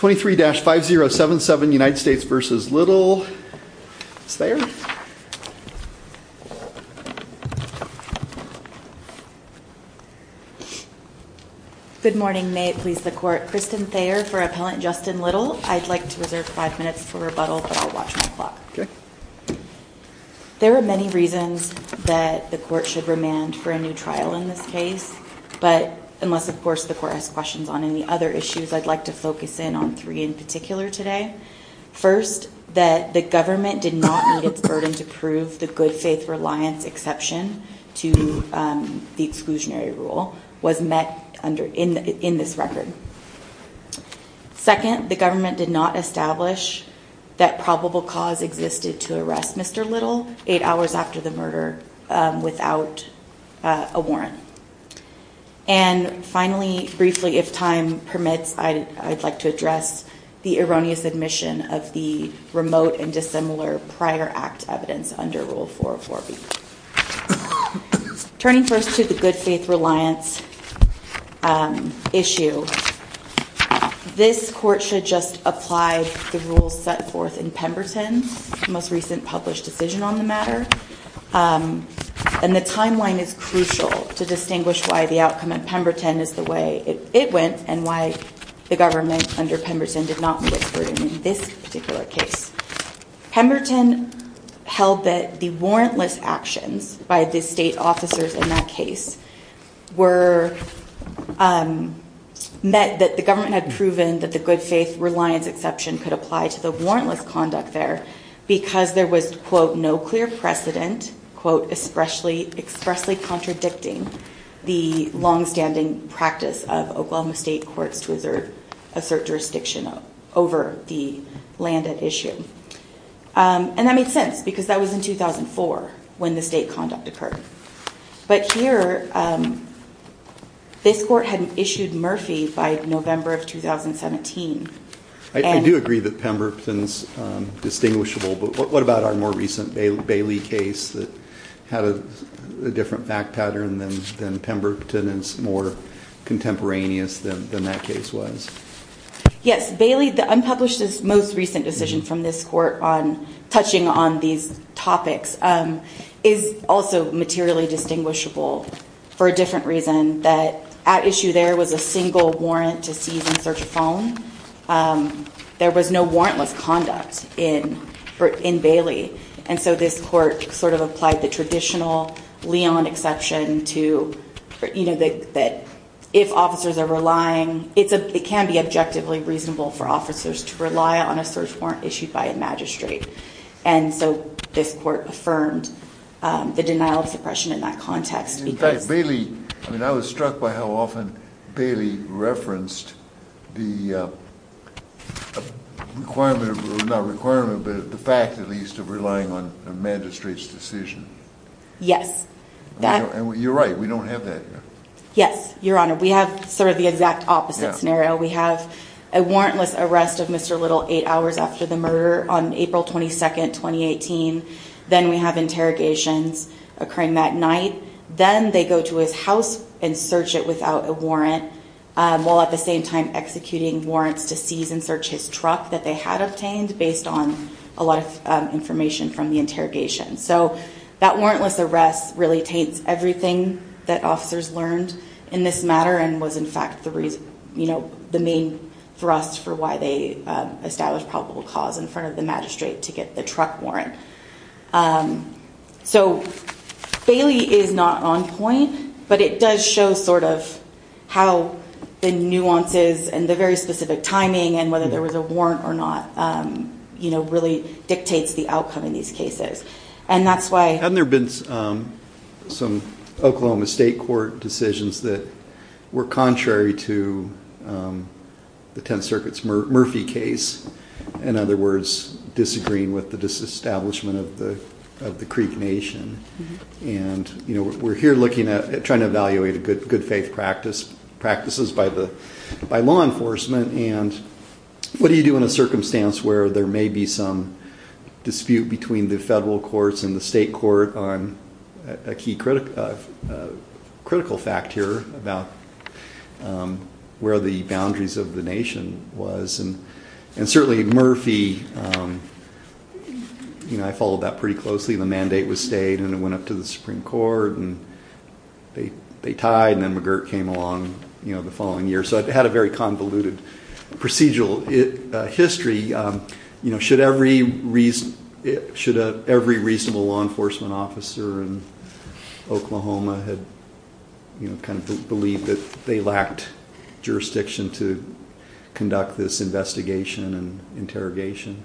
23-5077 United States v. Little Good morning, may it please the court. Kristen Thayer for Appellant Justin Little. I'd like to reserve five minutes for rebuttal, but I'll watch my clock. There are many reasons that the court should remand for a new trial in this case, but unless of course the court has questions on any other issues, I'd like to focus in on three in particular today. First, that the government did not need its burden to prove the good faith reliance exception to the exclusionary rule was met in this record. Second, the government did not establish that probable cause existed to arrest Mr. Little eight hours after the murder without a warrant. And finally, briefly, if time permits, I'd like to address the erroneous admission of the remote and dissimilar prior act evidence under Rule 404B. Turning first to the good faith reliance issue, this court should just apply the rules set forth in Pemberton's most recent published decision on the matter. And the timeline is crucial to distinguish why the outcome at Pemberton is the way it went and why the government under Pemberton did not need its burden in this particular case. Pemberton held that the warrantless actions by the state officers in that case met that the government had proven that the good faith reliance exception could apply to the warrantless conduct there, because there was, quote, no clear precedent, quote, expressly contradicting the longstanding practice of Oklahoma state courts to assert jurisdiction over the land at issue. And that made sense, because that was in 2004 when the state conduct occurred. But here, this court had issued Murphy by November of 2017. I do agree that Pemberton's distinguishable, but what about our more recent Bailey case that had a different fact pattern than Pemberton and is more contemporaneous than that case was? Yes, Bailey, the unpublished most recent decision from this court on touching on these topics is also materially distinguishable for a different reason, that at issue there was a single warrant to seize and search a phone. There was no warrantless conduct in Bailey. And so this court sort of applied the traditional Leon exception to, you know, that if officers are relying, it's a, it can be a warrantless conduct. It can't be objectively reasonable for officers to rely on a search warrant issued by a magistrate. And so this court affirmed the denial of suppression in that context. In fact, Bailey, I mean, I was struck by how often Bailey referenced the requirement, not requirement, but the fact at least of relying on a magistrate's decision. Yes. And you're right. We don't have that. Yes, Your Honor. We have sort of the exact opposite scenario. We have a warrantless arrest of Mr. Bailey on February 2nd, 2018. Then we have interrogations occurring that night. Then they go to his house and search it without a warrant while at the same time executing warrants to seize and search his truck that they had obtained based on a lot of information from the interrogation. So that warrantless arrest really taints everything that officers learned in this matter and was in fact the reason, you know, the main thrust for why they established probable cause in front of the magistrate to get the truck. So Bailey is not on point, but it does show sort of how the nuances and the very specific timing and whether there was a warrant or not, you know, really dictates the outcome in these cases. And that's why... Hadn't there been some Oklahoma State Court decisions that were contrary to the Tenth Circuit's Murphy case? In other words, disagreeing with the establishment of the Creek Nation. And, you know, we're here looking at trying to evaluate good faith practices by law enforcement. And what do you do in a circumstance where there may be some dispute between the federal courts and the state court on a key critical fact here about where the boundaries of the nation was? And certainly Murphy, you know, I followed that pretty closely. The mandate was stayed and it went up to the Supreme Court and they tied and then McGirt came along, you know, the following year. So it had a very convoluted procedural history. You know, should every reasonable law enforcement officer in Oklahoma had, you know, kind of believed that they lacked jurisdiction to conduct this investigation? And interrogation?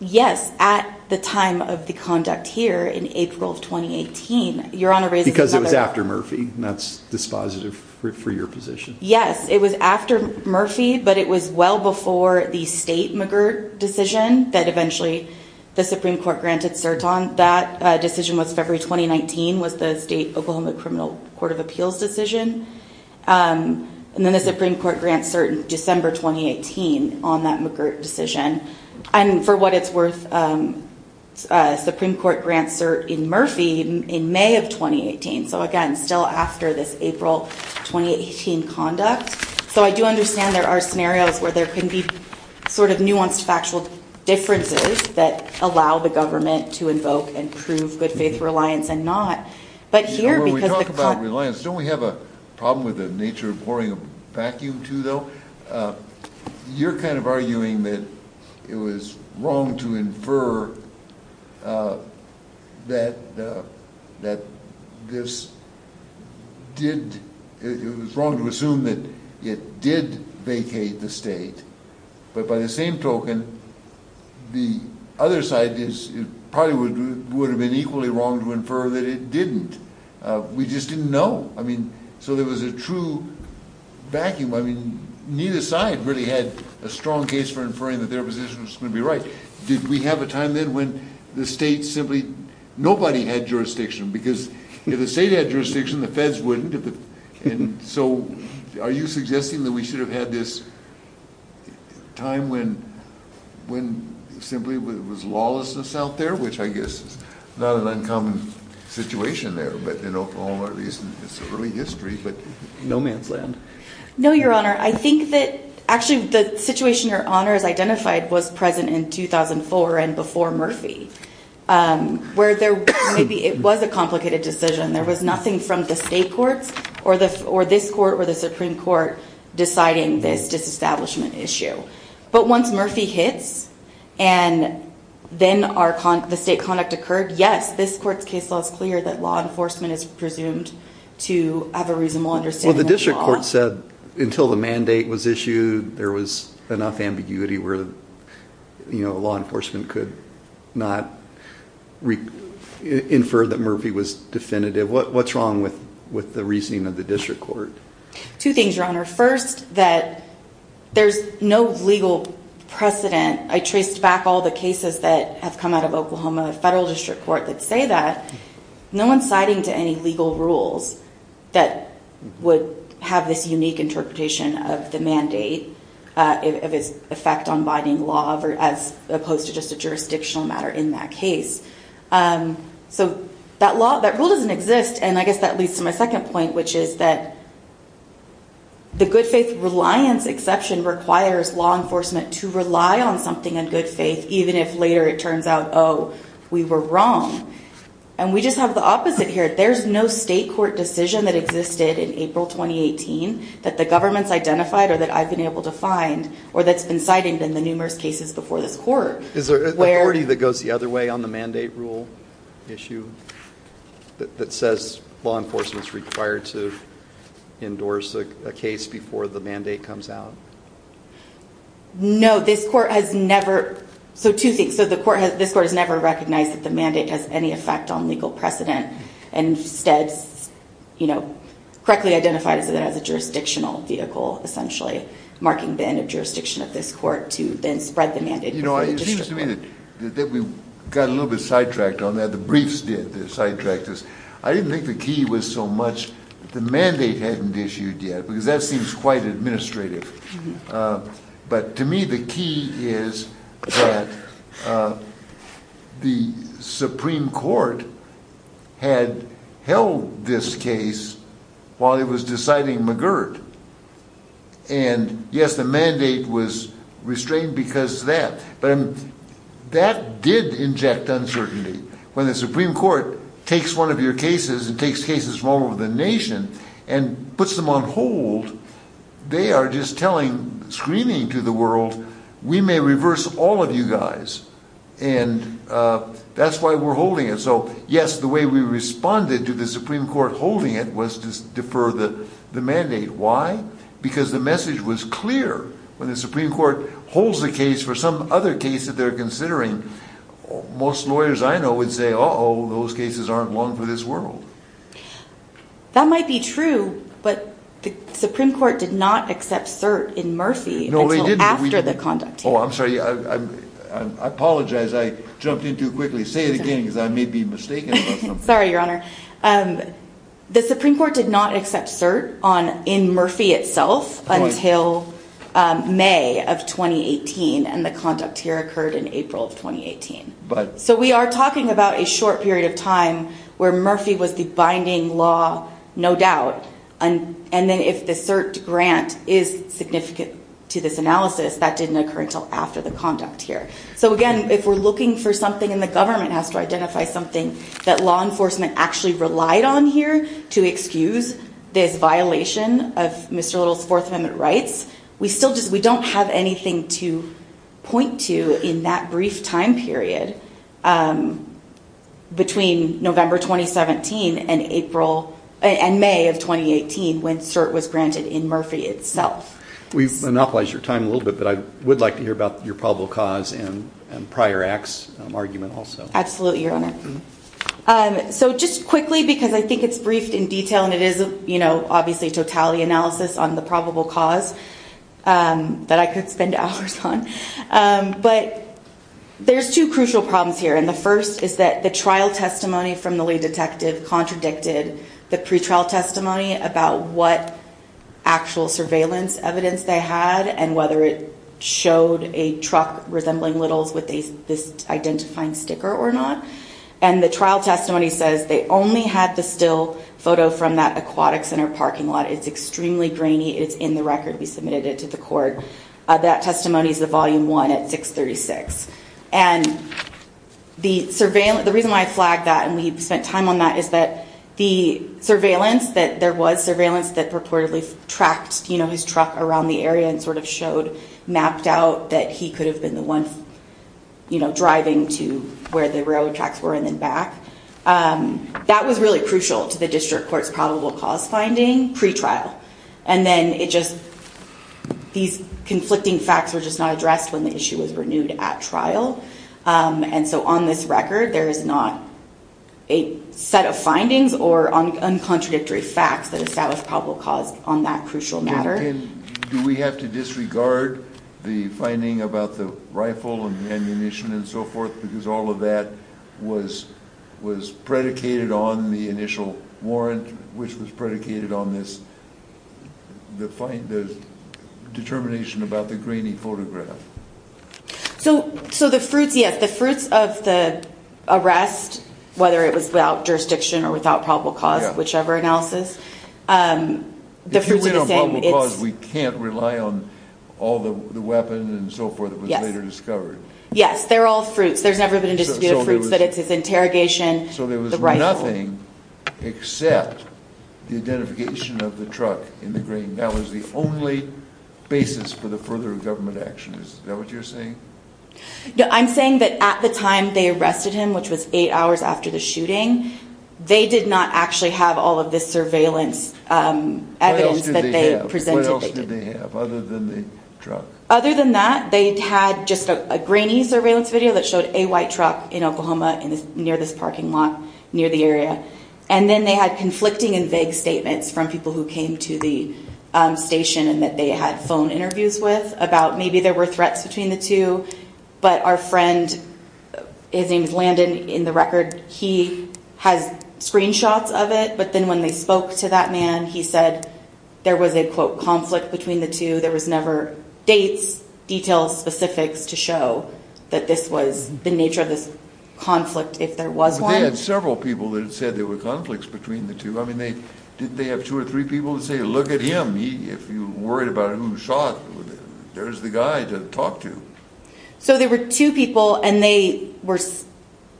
Yes. At the time of the conduct here in April of 2018. Because it was after Murphy. That's dispositive for your position. Yes, it was after Murphy, but it was well before the state McGirt decision that eventually the Supreme Court granted cert on. That decision was February 2019 was the state Oklahoma Criminal Court of Appeals decision. And then the Supreme Court grants certain December 2018 on that McGirt decision. And for what it's worth, Supreme Court grants cert in Murphy in May of 2018. So again, still after this April 2018 conduct. So I do understand there are scenarios where there can be sort of nuanced factual differences that allow the government to invoke. And prove good faith reliance and not. Don't we have a problem with the nature of pouring a vacuum to, though? You're kind of arguing that it was wrong to infer. That this did. It was wrong to assume that it did vacate the state. But by the same token, the other side is probably would have been equally wrong to infer that it didn't. We just didn't know. I mean, so there was a true vacuum. I mean, neither side really had a strong case for inferring that their position was going to be right. Did we have a time then when the state simply nobody had jurisdiction? Because if the state had jurisdiction, the feds wouldn't. And so are you suggesting that we should have had this time when when simply it was lawlessness out there, which I guess is not an uncommon situation there. But in Oklahoma, it's early history. But no man's land. No, Your Honor. I think that actually the situation your honors identified was present in 2004 and before Murphy, where there maybe it was a complicated decision. There was nothing from the state courts or this court or the Supreme Court deciding this disestablishment issue. But once Murphy hits and then the state conduct occurred, yes, this court's case law is clear that law enforcement is presumed to have a reasonable understanding. Well, the district court said until the mandate was issued, there was enough ambiguity where law enforcement could not infer that Murphy was definitive. What's wrong with the reasoning of the district court? Two things, Your Honor. First, that there's no legal precedent. I traced back all the cases that have come out of Oklahoma federal district court that say that no one's citing to any legal rules that would have this unique interpretation of the mandate of its effect on binding law as opposed to just a jurisdictional matter in that case. So that rule doesn't exist. And I guess that leads to my second point, which is that the good faith reliance exception requires law enforcement to rely on something in good faith, even if later it turns out, oh, we were wrong. And we just have the opposite here. There's no state court decision that existed in April 2018 that the government's identified or that I've been able to find or that's been cited in the numerous cases before this court. Is there authority that goes the other way on the mandate rule issue that says law enforcement is required to endorse a case before the mandate comes out? No, this court has never. So two things. So this court has never recognized that the mandate has any effect on legal precedent and instead correctly identified it as a jurisdictional vehicle, essentially marking the end of jurisdiction of this court to then spread the mandate. You know, it seems to me that we got a little bit sidetracked on that. The briefs did sidetrack this. I didn't think the key was so much that the mandate hadn't issued yet, because that seems quite administrative. But to me, the key is that the Supreme Court had held this case while it was deciding McGirt. And yes, the mandate was restrained because of that. But that did inject uncertainty. When the Supreme Court takes one of your cases and takes cases from all over the nation and puts them on hold, they are just telling, screaming to the world, we may reverse all of you guys. And that's why we're holding it. So yes, the way we responded to the Supreme Court holding it was to defer the mandate. Why? Because the message was clear. When the Supreme Court holds a case for some other case that they're considering, most lawyers I know would say, oh, those cases aren't long for this world. That might be true. But the Supreme Court did not accept cert in Murphy after the conduct. Oh, I'm sorry. I apologize. I jumped in too quickly. Say it again because I may be mistaken. Sorry, Your Honor. The Supreme Court held the case in May of 2018 and the conduct here occurred in April of 2018. So we are talking about a short period of time where Murphy was the binding law, no doubt. And then if the cert grant is significant to this analysis, that didn't occur until after the conduct here. So again, if we're looking for something and the government has to identify something that law enforcement actually relied on here to excuse this violation of Mr. Little's Fourth Amendment rights, we don't have anything to point to in that brief time period between November 2017 and May of 2018 when cert was granted in Murphy itself. We've monopolized your time a little bit, but I would like to hear about your probable cause and prior acts argument also. Absolutely, Your Honor. So just quickly because I think it's briefed in detail and it is obviously totality analysis on the probable cause that I could spend hours on. But there's two crucial problems here. And the first is that the trial testimony from the lead detective contradicted the pretrial testimony about what actual surveillance evidence they had and whether it showed a truck resembling Little's with this identifying sticker or not. And the trial testimony says they only had the still photo from that aquatic center parking lot. It's extremely grainy. It's in the record. We submitted it to the court. That testimony is the volume one at 636. And the reason why I flagged that and we spent time on that is that the surveillance that there was surveillance that purportedly tracked his truck around the area and sort of showed mapped out that he could have been the one driving to where the railroad tracks were and then back. That was really crucial to the district court's probable cause finding pretrial. And then it just these conflicting facts were just not addressed when the issue was renewed at trial. And so on this record, there is not a set of findings or on contradictory facts that established probable cause on that crucial matter. Do we have to disregard the finding about the rifle and ammunition and so forth? Because all of that was was predicated on the initial warrant, which was predicated on this. The so the fruits of the arrest, whether it was without jurisdiction or without probable cause, whichever analysis the we can't rely on all the weapons and so forth. It was later discovered. Yes, they're all fruits. There's never been indistinguishable, but it's his interrogation. So there was nothing except the identification of the truck in the green. That was the only basis for the further government action. Is that what you're saying? I'm saying that at the time they arrested him, which was eight hours after the shooting, they did not actually have all of this surveillance evidence that they presented. What else did they have other than the truck? Other than that, they had just a grainy surveillance video that showed a white truck in Oklahoma near this parking lot near the area. And then they had conflicting and vague statements from people who came to the station and that they had phone interviews with about maybe there were threats between the two. But our friend, his name is Landon. In the record, he has screenshots of it. But then when they spoke to that man, he said there was a, quote, conflict between the two. There was never dates, details, specifics to show that this was the nature of this conflict, if there was one. But they had several people that had said there were conflicts between the two. I mean, didn't they have two or three people to say, look at him. If you're worried about who shot, there's the guy to talk to. So there were two people and they were,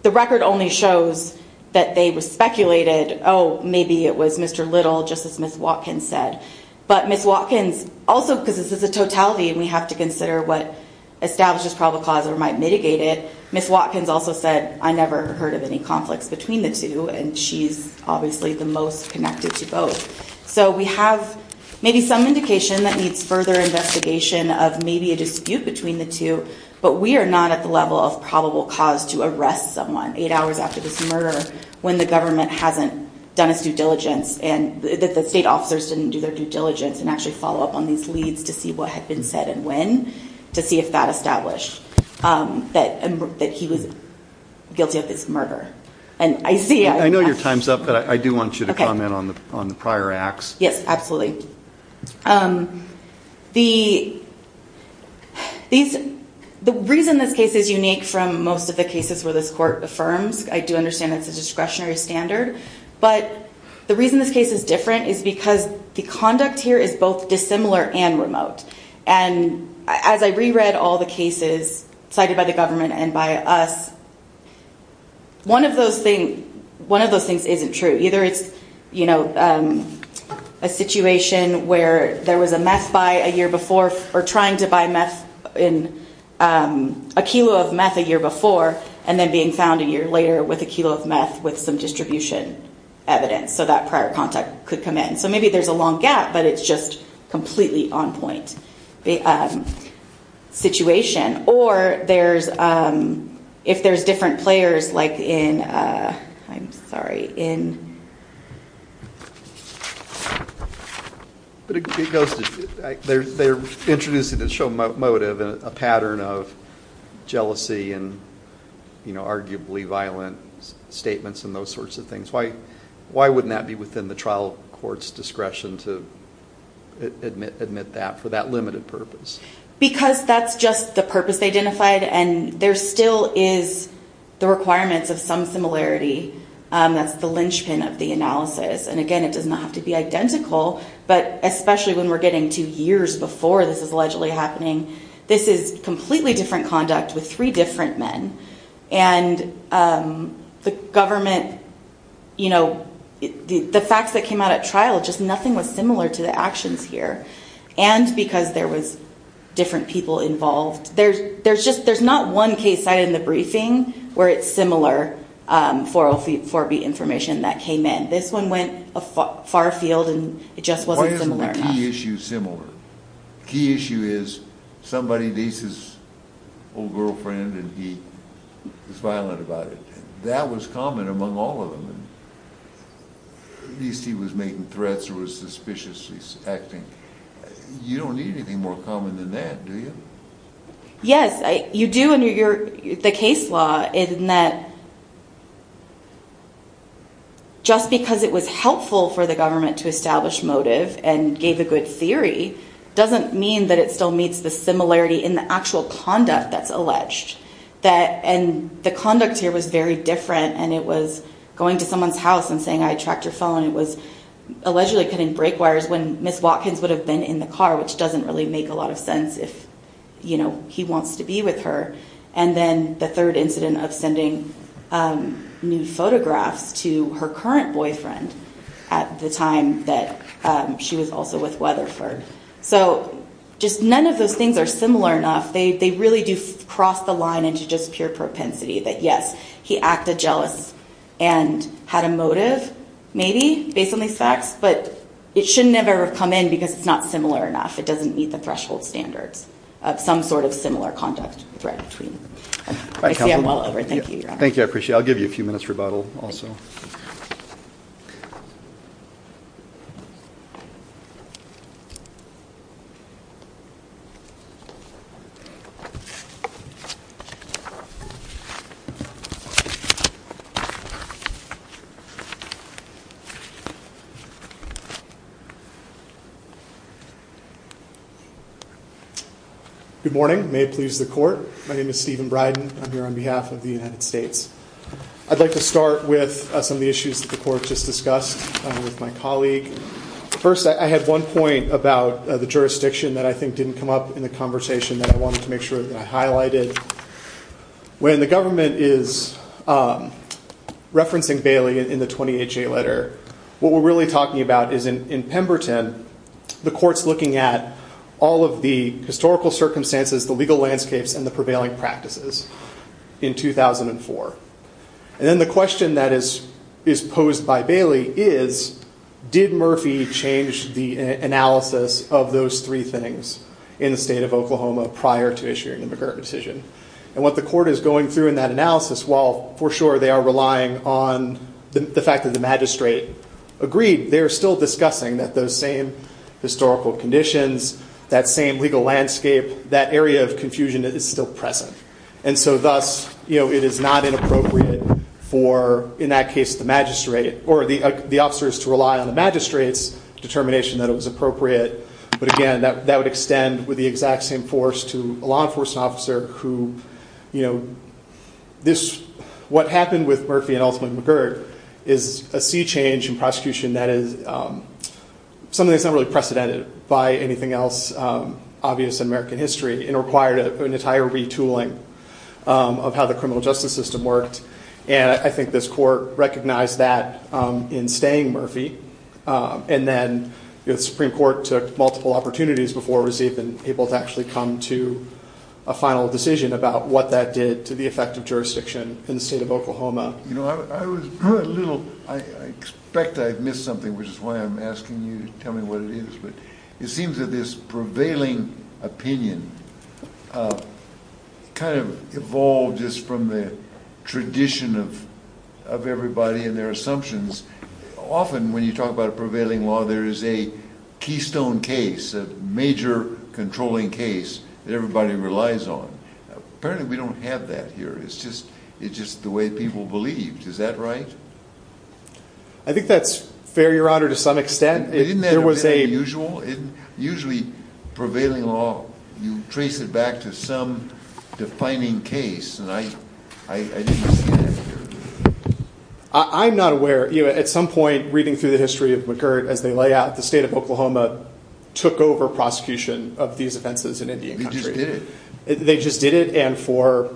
the record only shows that they speculated, oh, maybe it was Mr. Little, just as Ms. Watkins said. But Ms. Watkins also, because this is a totality and we have to consider what establishes probable cause or might mitigate it, Ms. Watkins also said, I never heard of any conflicts between the two. And she's obviously the most connected to both. So we have maybe some indication that needs further investigation of maybe a dispute between the two. But we are not at the level of probable cause to arrest someone eight hours after this murder when the government hasn't done its due diligence and the state officers didn't do their due diligence and actually follow up on these leads to see what had been said and when to see if that established that he was guilty of this murder. I know your time's up, but I do want you to comment on the prior acts. Yes, absolutely. The reason this case is unique from most of the cases where this court affirms, I do understand it's a discretionary standard, but the reason this case is different is because the conduct here is both dissimilar and remote. And as I reread all the cases cited by the government and by us, one of those things isn't true. Either it's a situation where there was a meth buy a year before or trying to buy a kilo of meth a year before and then being found a year later with a kilo of meth with some distribution evidence. So that prior contact could come in. So maybe there's a long gap, but it's just completely on point situation. Or if there's different players like in I'm sorry, in But it goes to, they're introducing the show motive and a pattern of jealousy and arguably violent statements and those sorts of things. Why wouldn't that be within the trial court's discretion to admit that for that limited purpose? Because that's just the purpose identified and there still is the requirements of some similarity that's the linchpin of the analysis. And again, it does not have to be identical, but especially when we're getting to years before this is allegedly happening, this is completely different conduct with three different men and the government you know, the facts that came out at trial, just nothing was similar to the actions here. And because there was different people involved, there's just, there's not one case site in the briefing where it's similar for the information that came in. This one went a far field and it just wasn't similar. Why isn't the key issue similar? The key issue is somebody beats his old girlfriend and he was violent about it. That was common among all of them. At least he was making threats or was suspiciously acting. You don't need anything more common than that, do you? Yes, you do and the case law in that just because it was helpful for the government to establish motive and gave a good theory, doesn't mean that it still meets the similarity in the actual conduct that's alleged. And the conduct here was very different and it was going to someone's house and saying, I tracked your phone. It was allegedly cutting brake wires when Miss Watkins would have been in the car, which doesn't really make a lot of sense if he wants to be with her. And then the third incident of sending new photographs to her current boyfriend at the time that she was also with Weatherford. So just none of those things are similar enough. They really do cross the line into just pure propensity that yes, he acted jealous and had a motive maybe based on these facts, but it should never have come in because it's not similar enough. It doesn't meet the threshold standards of some sort of similar conduct. Thank you. I appreciate I'll give you a few minutes rebuttal also. Good morning. May it please the court. My name is Stephen Bryden. I'm here on behalf of the United States. I'd like to start with some of the issues that the court just discussed with my colleague. First, I had one point about the jurisdiction that I think didn't come up in the conversation that I wanted to make sure that I highlighted. When the government is referencing Bailey in the 28 J letter, what we're really talking about is in Pemberton, the court's looking at all of the historical circumstances, the legal landscapes and the prevailing practices in 2004. And then the question that is posed by Bailey is did Murphy change the analysis of those three things in the state of Oklahoma prior to issuing the McGirt decision? And what the court is going through in that analysis, while for sure they are relying on the fact that the magistrate agreed, they're still discussing that those same historical conditions, that same legal landscape, that area of confusion is still present. And so thus, it is not inappropriate for, in that case, the magistrate or the officers to rely on the magistrate's determination that it was appropriate. But again, that would extend with the exact same force to a law enforcement officer who, you know, what happened with Murphy and ultimately McGirt is a sea change in prosecution that is something that's not really precedented by anything else obvious in American history and required an entire retooling of how the criminal justice system worked. And I think this court recognized that in staying Murphy. And then the Supreme Court took multiple opportunities before receiving people to actually come to a final decision about what that did to the effect of jurisdiction in the state of Oklahoma. You know, I was a little, I expect I've missed something, which is why I'm asking you to tell me what it is. But it seems that this prevailing opinion kind of evolved just from the tradition of everybody and their assumptions. Often when you talk about a prevailing law, there is a keystone case, a major controlling case that everybody relies on. Apparently we don't have that here. It's just the way people believe. Is that right? I think that's fair, Your Honor, to some extent. Isn't that a bit unusual? Usually prevailing law, you trace it back to some defining case. And I didn't see that here. I'm not aware. At some point, reading through the history of McGirt, as they lay out, the state of Oklahoma took over prosecution of these offenses in Indian country. They just did it? They just did it. And for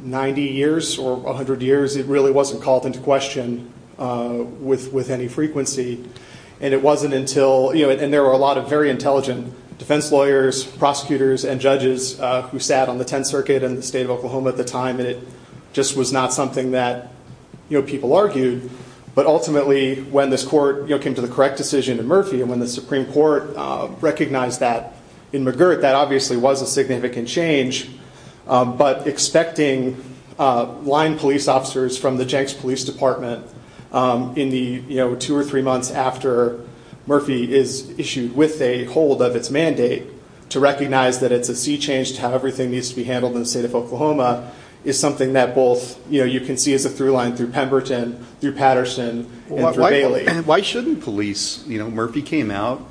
90 years or 100 years, it really wasn't called into question with any frequency. And it wasn't until, you know, and there were a lot of very intelligent defense lawyers, prosecutors and judges who sat on the 10th circuit in the state of Oklahoma at the time. And it just was not something that people argued. But ultimately, when this court came to the correct decision in Murphy and when the Supreme Court recognized that in McGirt, that obviously was a significant change. But expecting line police officers from the Jenks Police Department in the two or three months after Murphy is issued with a hold of its mandate to recognize that it's a sea change to how everything needs to be handled in the state of Oklahoma is something that both, you know, you can see as a through line through Pemberton, through Patterson. Why shouldn't police you know, Murphy came out?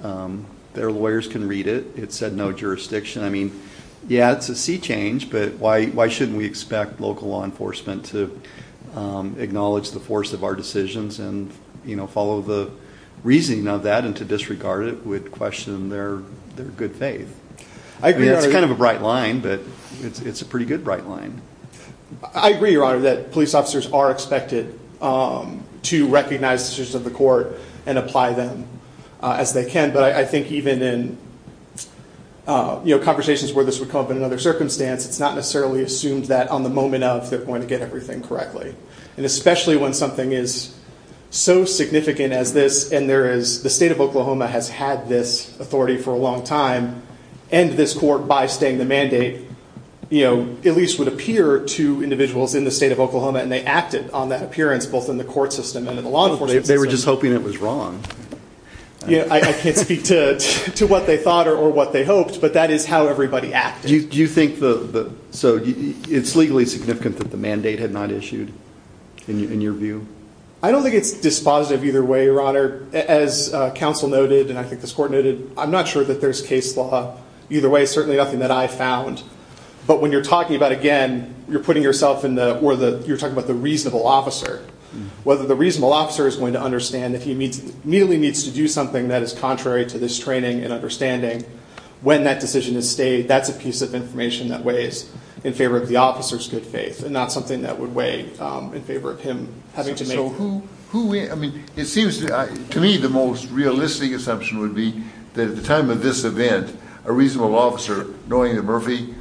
Their lawyers can read it. It said no jurisdiction. I mean, yeah, it's a sea change. But why why shouldn't we expect local law enforcement to acknowledge the force of our decisions and, you know, follow the reasoning of that and to disregard it with question their their good faith? I mean, it's kind of a bright line, but it's a pretty good bright line. I agree, Your Honor, that line police officers are expected to recognize the court and apply them as they can. But I think even in, you know, conversations where this would come up in another circumstance, it's not necessarily assumed that on the moment of they're going to get everything correctly. And especially when something is so significant as this. And there is the state of Oklahoma has had this authority for a long time and this court by staying the mandate, you know, at least would appear to individuals in the state of Oklahoma. And they acted on that appearance both in the court system and in the law. They were just hoping it was wrong. I can't speak to to what they thought or what they hoped. But that is how everybody act. Do you think the so it's legally significant that the mandate had not issued in your view? I don't think it's dispositive either way, Your Honor. As counsel noted, and I think this court noted, I'm not sure that there's case law either way. Certainly nothing that I found. But when you're talking about again, you're putting yourself in the or the you're talking about the reasonable officer, whether the reasonable officer is going to understand that he needs really needs to do something that is contrary to this training and understanding when that decision is stayed. That's a piece of information that weighs in favor of the officer's good faith and not something that would weigh in favor of him having to make. So who I mean, it seems to me the most realistic assumption would be that at the time of this event, a reasonable officer knowing that Murphy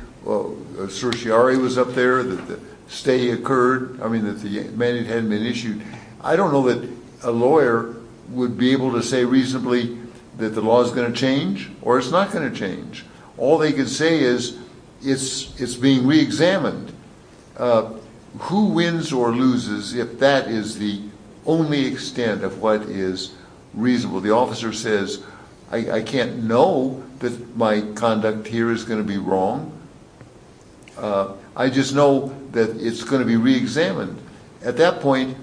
certiorari was up there that the stay occurred. I mean, that the mandate hadn't been issued. I don't know that a lawyer would be able to say reasonably that the law is going to change or it's not going to change. All they can say is it's it's being reexamined. Who wins or loses if that is the only extent of what is reasonable? The officer says, I can't know that my conduct here is going to be wrong. I just know that it's going to be reexamined at that point.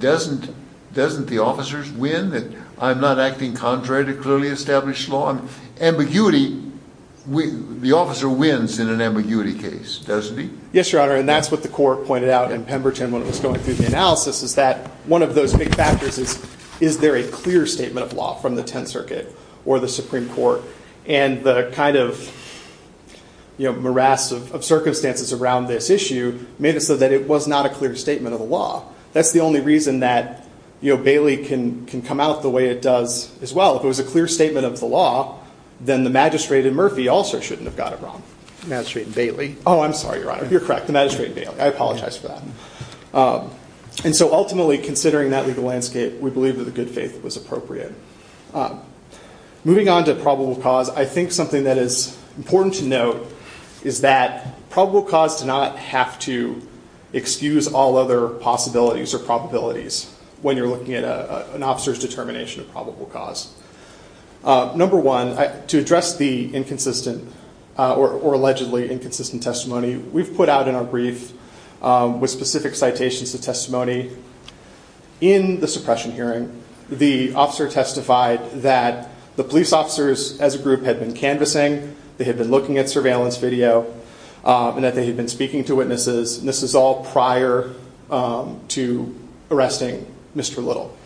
Doesn't doesn't the officers win that I'm not acting contrary to clearly established law and ambiguity? The officer wins in an ambiguity case, doesn't he? Yes, Your Honor. And that's what the court pointed out in Pemberton when it was going through the analysis is that one of those big factors is, is there a clear statement of law from the Tenth Circuit or the Supreme Court and the kind of morass of circumstances around this issue made it so that it was not a clear statement of the law. That's the only reason that Bailey can come out the way it does as well. If it was a clear statement of the law, then the Magistrate and Murphy also shouldn't have got it wrong. Magistrate and Bailey. Oh, I'm sorry, Your Honor. You're correct. The Magistrate and Bailey. I apologize for that. And so ultimately, considering that legal landscape, we believe that the good faith was appropriate. Moving on to probable cause, I think something that is important to note is that probable cause to not have to excuse all other possibilities or probabilities when you're looking at an officer's determination of probable cause. Number one, to address the inconsistent or allegedly inconsistent testimony we've put out in our brief with specific citations to testimony in the suppression hearing, the officer testified that the police officers as a group had been canvassing, they had been looking at surveillance video, and that they had been speaking to witnesses. And this is all prior to arresting Mr. Little.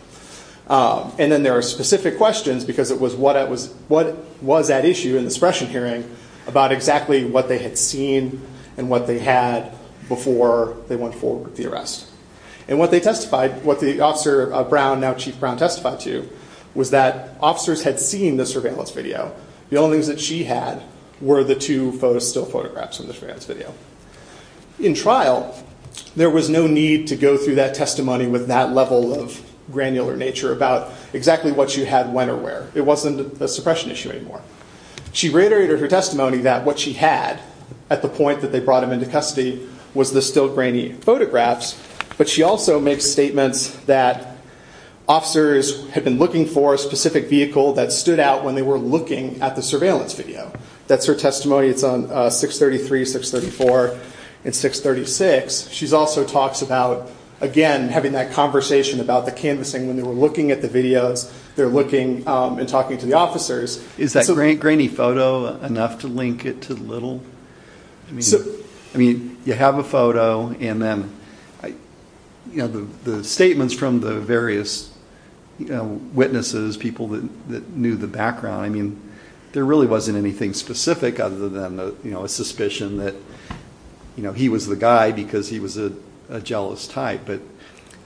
And then there are specific questions because it was what was at issue in the suppression hearing about exactly what they had seen and what they had before they went forward with the arrest. And what they testified, what the officer of Brown, now Chief Brown, testified to was that officers had seen the surveillance video. The only things that she had were the two still photographs from the surveillance video. In trial, there was no need to go through that testimony with that level of granular nature about exactly what she had when or where. It wasn't a suppression issue anymore. She reiterated her testimony that what she had at the point that they brought him into custody was the still grainy photographs. But she also makes statements that officers had been looking for a specific vehicle that stood out when they were looking at the surveillance video. That's her testimony. It's on 633, 634, and 636. She also talks about, again, having that conversation about the canvassing when they were looking at the videos. Is that grainy photo enough to link it to Little? You have a photo, and then the statements from the various witnesses, people that knew the background, there really wasn't anything specific other than a suspicion that he was the guy because he was a jealous type.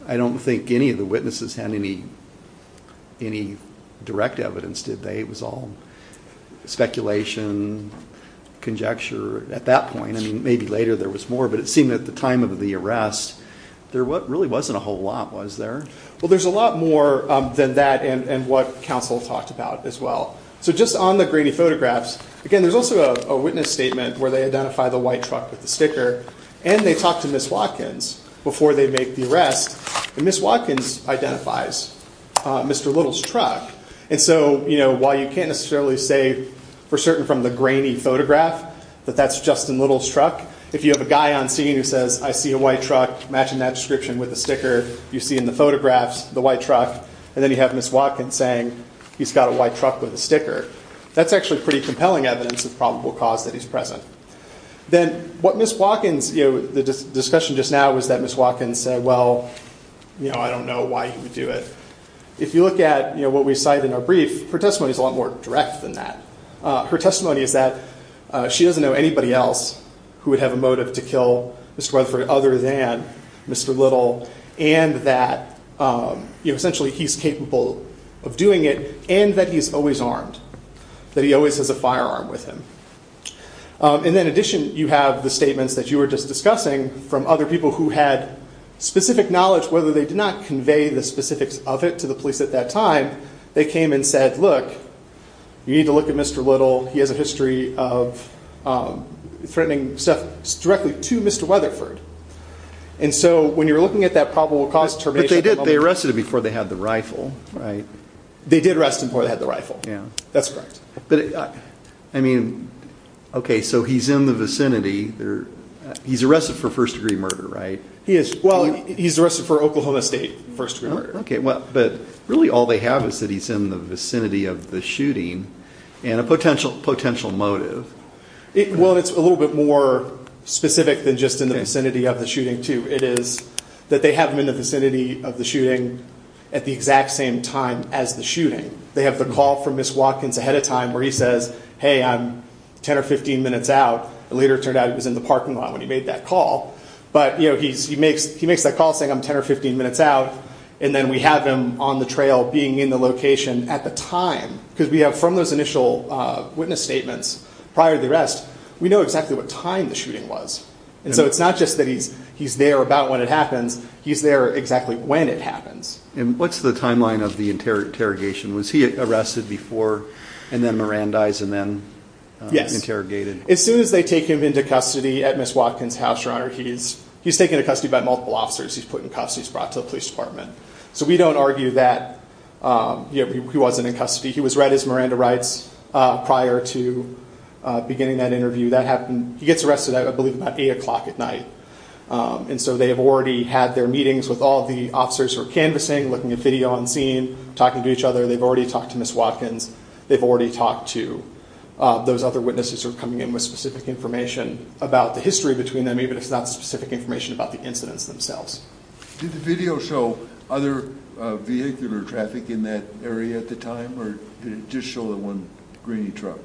I don't think any of the witnesses had any direct evidence, did they? It was all speculation, conjecture at that point. Maybe later there was more, but it seemed at the time of the arrest, there really wasn't a whole lot, was there? Well, there's a lot more than that and what counsel talked about as well. Just on the grainy photographs, again, there's also a witness statement where they identify the white truck with the sticker and they talk to Ms. Watkins before they make the arrest. Ms. Watkins identifies Mr. Little's truck. While you can't necessarily say for certain from the grainy photograph that that's Justin Little's truck, if you have a guy on scene who says, I see a white truck matching that description with the sticker you see in the photographs, the white truck, and then you have Ms. Watkins saying he's got a white truck with a sticker, that's actually pretty compelling evidence of probable cause that he's present. Then what Ms. Watkins, the discussion just now was that Ms. Watkins said, well, I don't know why he would do it. If you look at what we cite in our brief, her testimony is a lot more direct than that. Her testimony is that she doesn't know anybody else who would have a motive to kill Mr. Weatherford other than Mr. Little and that essentially he's capable of doing it and that he's always armed, that he always has a firearm with him. In addition, you have the statements that you were just discussing from other people who had specific knowledge, whether they did not convey the specifics of it to the police at that time, they came and said, look, you need to look at Mr. Little. He has a history of threatening stuff directly to Mr. Weatherford. When you're looking at that probable cause determination... They arrested him before they had the rifle. He's in the vicinity. He's arrested for first degree murder, right? He's arrested for Oklahoma State first degree murder. But really all they have is that he's in the vicinity of the shooting and a potential motive. Well, it's a little bit more specific than just in the vicinity of the shooting, too. It is that they have him in the vicinity of the shooting at the exact same time as the shooting. They have the call from Ms. Watkins ahead of time where he says, hey, I'm 10 or 15 minutes out. It later turned out he was in the parking lot when he made that call. But he makes that call saying I'm 10 or 15 minutes out. And then we have him on the trail being in the location at the time. Because we have from those initial witness statements prior to the arrest, we know exactly what time the shooting was. And so it's not just that he's there about when it happens. He's there exactly when it happens. And what's the timeline of the interrogation? Was he arrested before and then Mirandized and then interrogated? Yes. As soon as they take him into custody at Ms. Watkins' house, Your Honor, he's taken into custody by multiple officers. He's put in cuffs. He's brought to the police department. So we don't argue that he wasn't in custody. He was read as Miranda Rights prior to beginning that interview. He gets arrested, I believe, about 8 o'clock at night. And so they have already had their meetings with all the officers who are canvassing, looking at video on scene, talking to each other. They've already talked to Ms. Watkins. They've already talked to those other witnesses who are coming in with specific information about the history between them, even if it's not specific information about the incidents themselves. Did the video show other vehicular traffic in that area at the time? Or did it just show the one Greeny truck?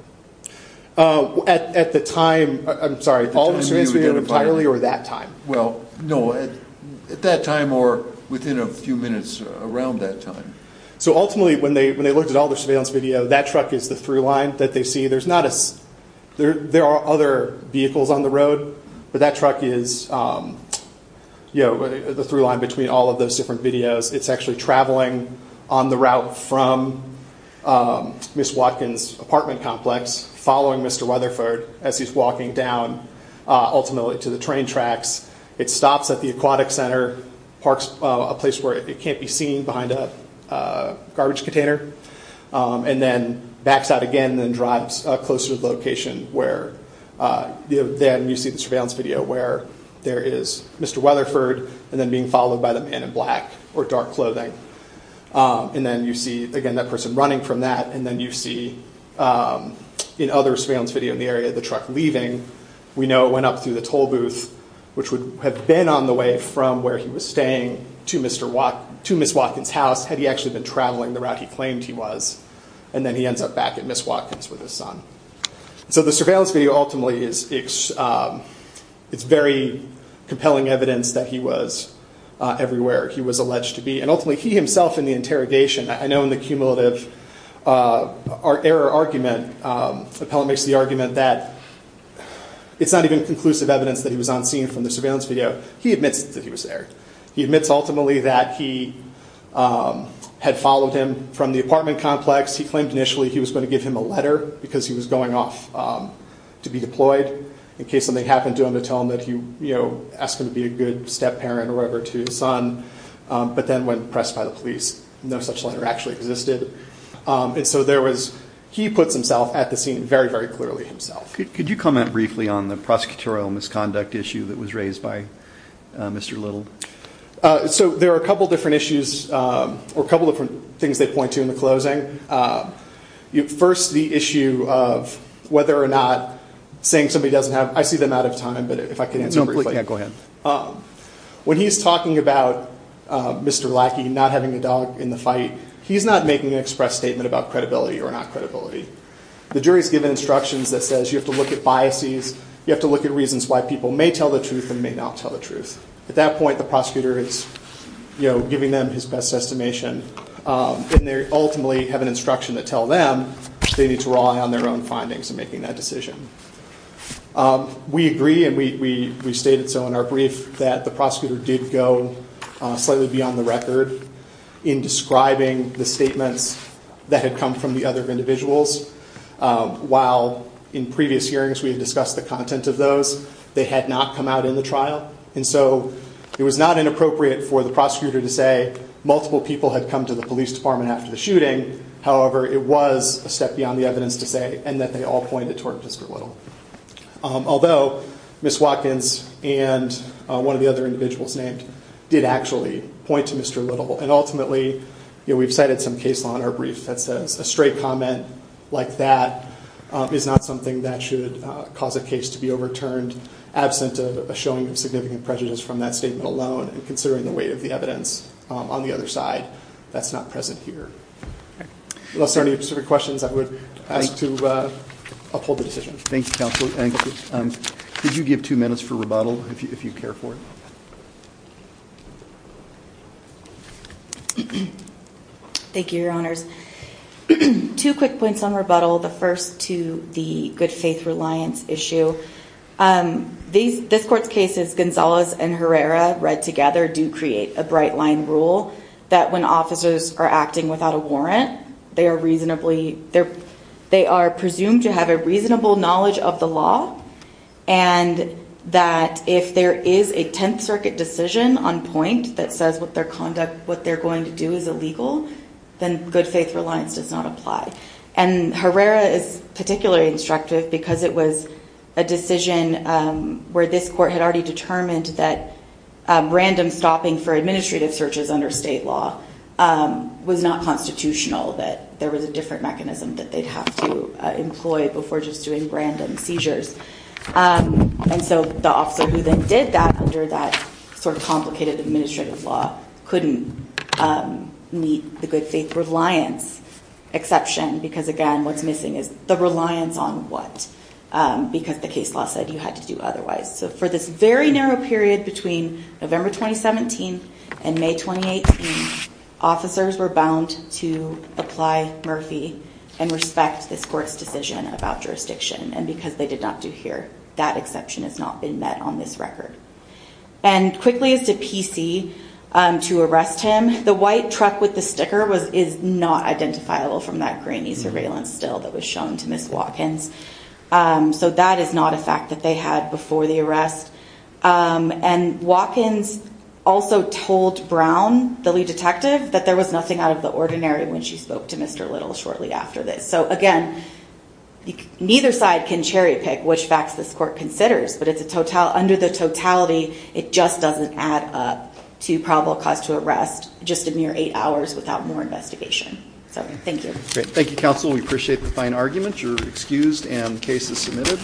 At the time, I'm sorry, all the series we have entirely or that time? Well, no, at that time or within a few minutes around that time. So ultimately, when they looked at all the surveillance video, that truck is the through line that they see. There are other vehicles on the road, but that truck is the through line between all of those different videos. It's actually traveling on the route from Ms. Watkins' apartment complex following Mr. Weatherford as he's walking down ultimately to the train tracks. It stops at the aquatic center, parks a place where it can't be seen behind a garbage container, and then backs out again and drives closer to the location where then you see the surveillance video where there is Mr. Weatherford and then being followed by the man in black or dark clothing. And then you see, again, that person running from that and then you see in other surveillance video in the area, the truck leaving. We know it went up through the toll booth which would have been on the way from where he was staying to Ms. Watkins' house had he actually been traveling the route he claimed he was. And then he ends up back at Ms. Watkins with his son. So the surveillance video ultimately is very compelling evidence that he was everywhere. He was alleged to be. And ultimately he himself in the interrogation, I know in the cumulative error argument, Appellant makes the argument that it's not even conclusive evidence that he was on scene from the surveillance video. He admits that he was there. He admits ultimately that he had followed him from the apartment complex. He claimed initially he was going to give him a letter because he was going off to be deployed in case something happened to him to tell him that he asked him to be a good step parent or whatever to his son. But then when pressed by the police, no such letter actually existed. And so there was, he puts himself at the scene very, very clearly himself. Could you comment briefly on the prosecutorial misconduct issue that was raised by Mr. Little? So there are a couple different issues or a couple different things they point to in the closing. First, the issue of whether or not saying somebody doesn't have, I see them out of time, but if I can answer briefly. When he's talking about Mr. Lackey not having a dog in the fight, he's not making an express statement about credibility or not credibility. The jury's given instructions that says you have to look at biases. You have to look at reasons why people may tell the truth and may not tell the truth. At that point, the prosecutor is giving them his best estimation and they ultimately have an instruction to tell them they need to rely on their own findings in making that decision. We agree and we stated so in our brief that the prosecutor did go slightly beyond the record in describing the statements that had come from the other individuals while in previous hearings we had discussed the content of those. They had not come out in the trial and so it was not inappropriate for the prosecutor to say multiple people had come to the police department after the shooting. However, it was a step beyond the evidence to say and that they all pointed toward Mr. Little. Although Ms. Watkins and one of the other individuals named did actually point to Mr. Little and ultimately we've cited some case law in our brief that says a straight comment like that is not something that should cause a case to be overturned absent of a showing of significant prejudice from that statement alone and considering the weight of the evidence on the other side that's not present here. Unless there are any specific questions, I would ask to uphold the decision. Thank you, Counselor. Could you give two minutes for rebuttal if you care for it? Thank you, Your Honors. Two quick points on rebuttal. The first to the good faith reliance issue. This court's cases, Gonzalez and Herrera read together do create a bright line rule that when officers are acting without a warrant they are reasonably they are presumed to have a reasonable knowledge of the law and that if there is a 10th Circuit decision on point that says what they're going to do is illegal, then good faith reliance does not apply. And Herrera is particularly instructive because it was a decision where this court had already determined that random stopping for administrative reasons was a different mechanism that they'd have to employ before just doing random seizures. And so the officer who then did that under that sort of complicated administrative law couldn't meet the good faith reliance exception because, again, what's missing is the reliance on what because the case law said you had to do otherwise. So for this very narrow period between November 2017 and May 2018, officers were bound to apply Murphy and respect this court's decision about jurisdiction. And because they did not do here, that exception has not been met on this record. And quickly as to PC to arrest him, the white truck with the sticker is not identifiable from that grainy surveillance still that was shown to Ms. Watkins. So that is not a fact that they had before the arrest. And Watkins also told Brown, the lead detective, that there was nothing out of the ordinary when she spoke to Mr. Little shortly after this. So, again, neither side can cherry pick which facts this court considers, but under the totality, it just doesn't add up to probable cause to arrest just a mere eight hours without more investigation. So thank you. Thank you, Counsel. We appreciate the fine argument. You're excused and the case is submitted.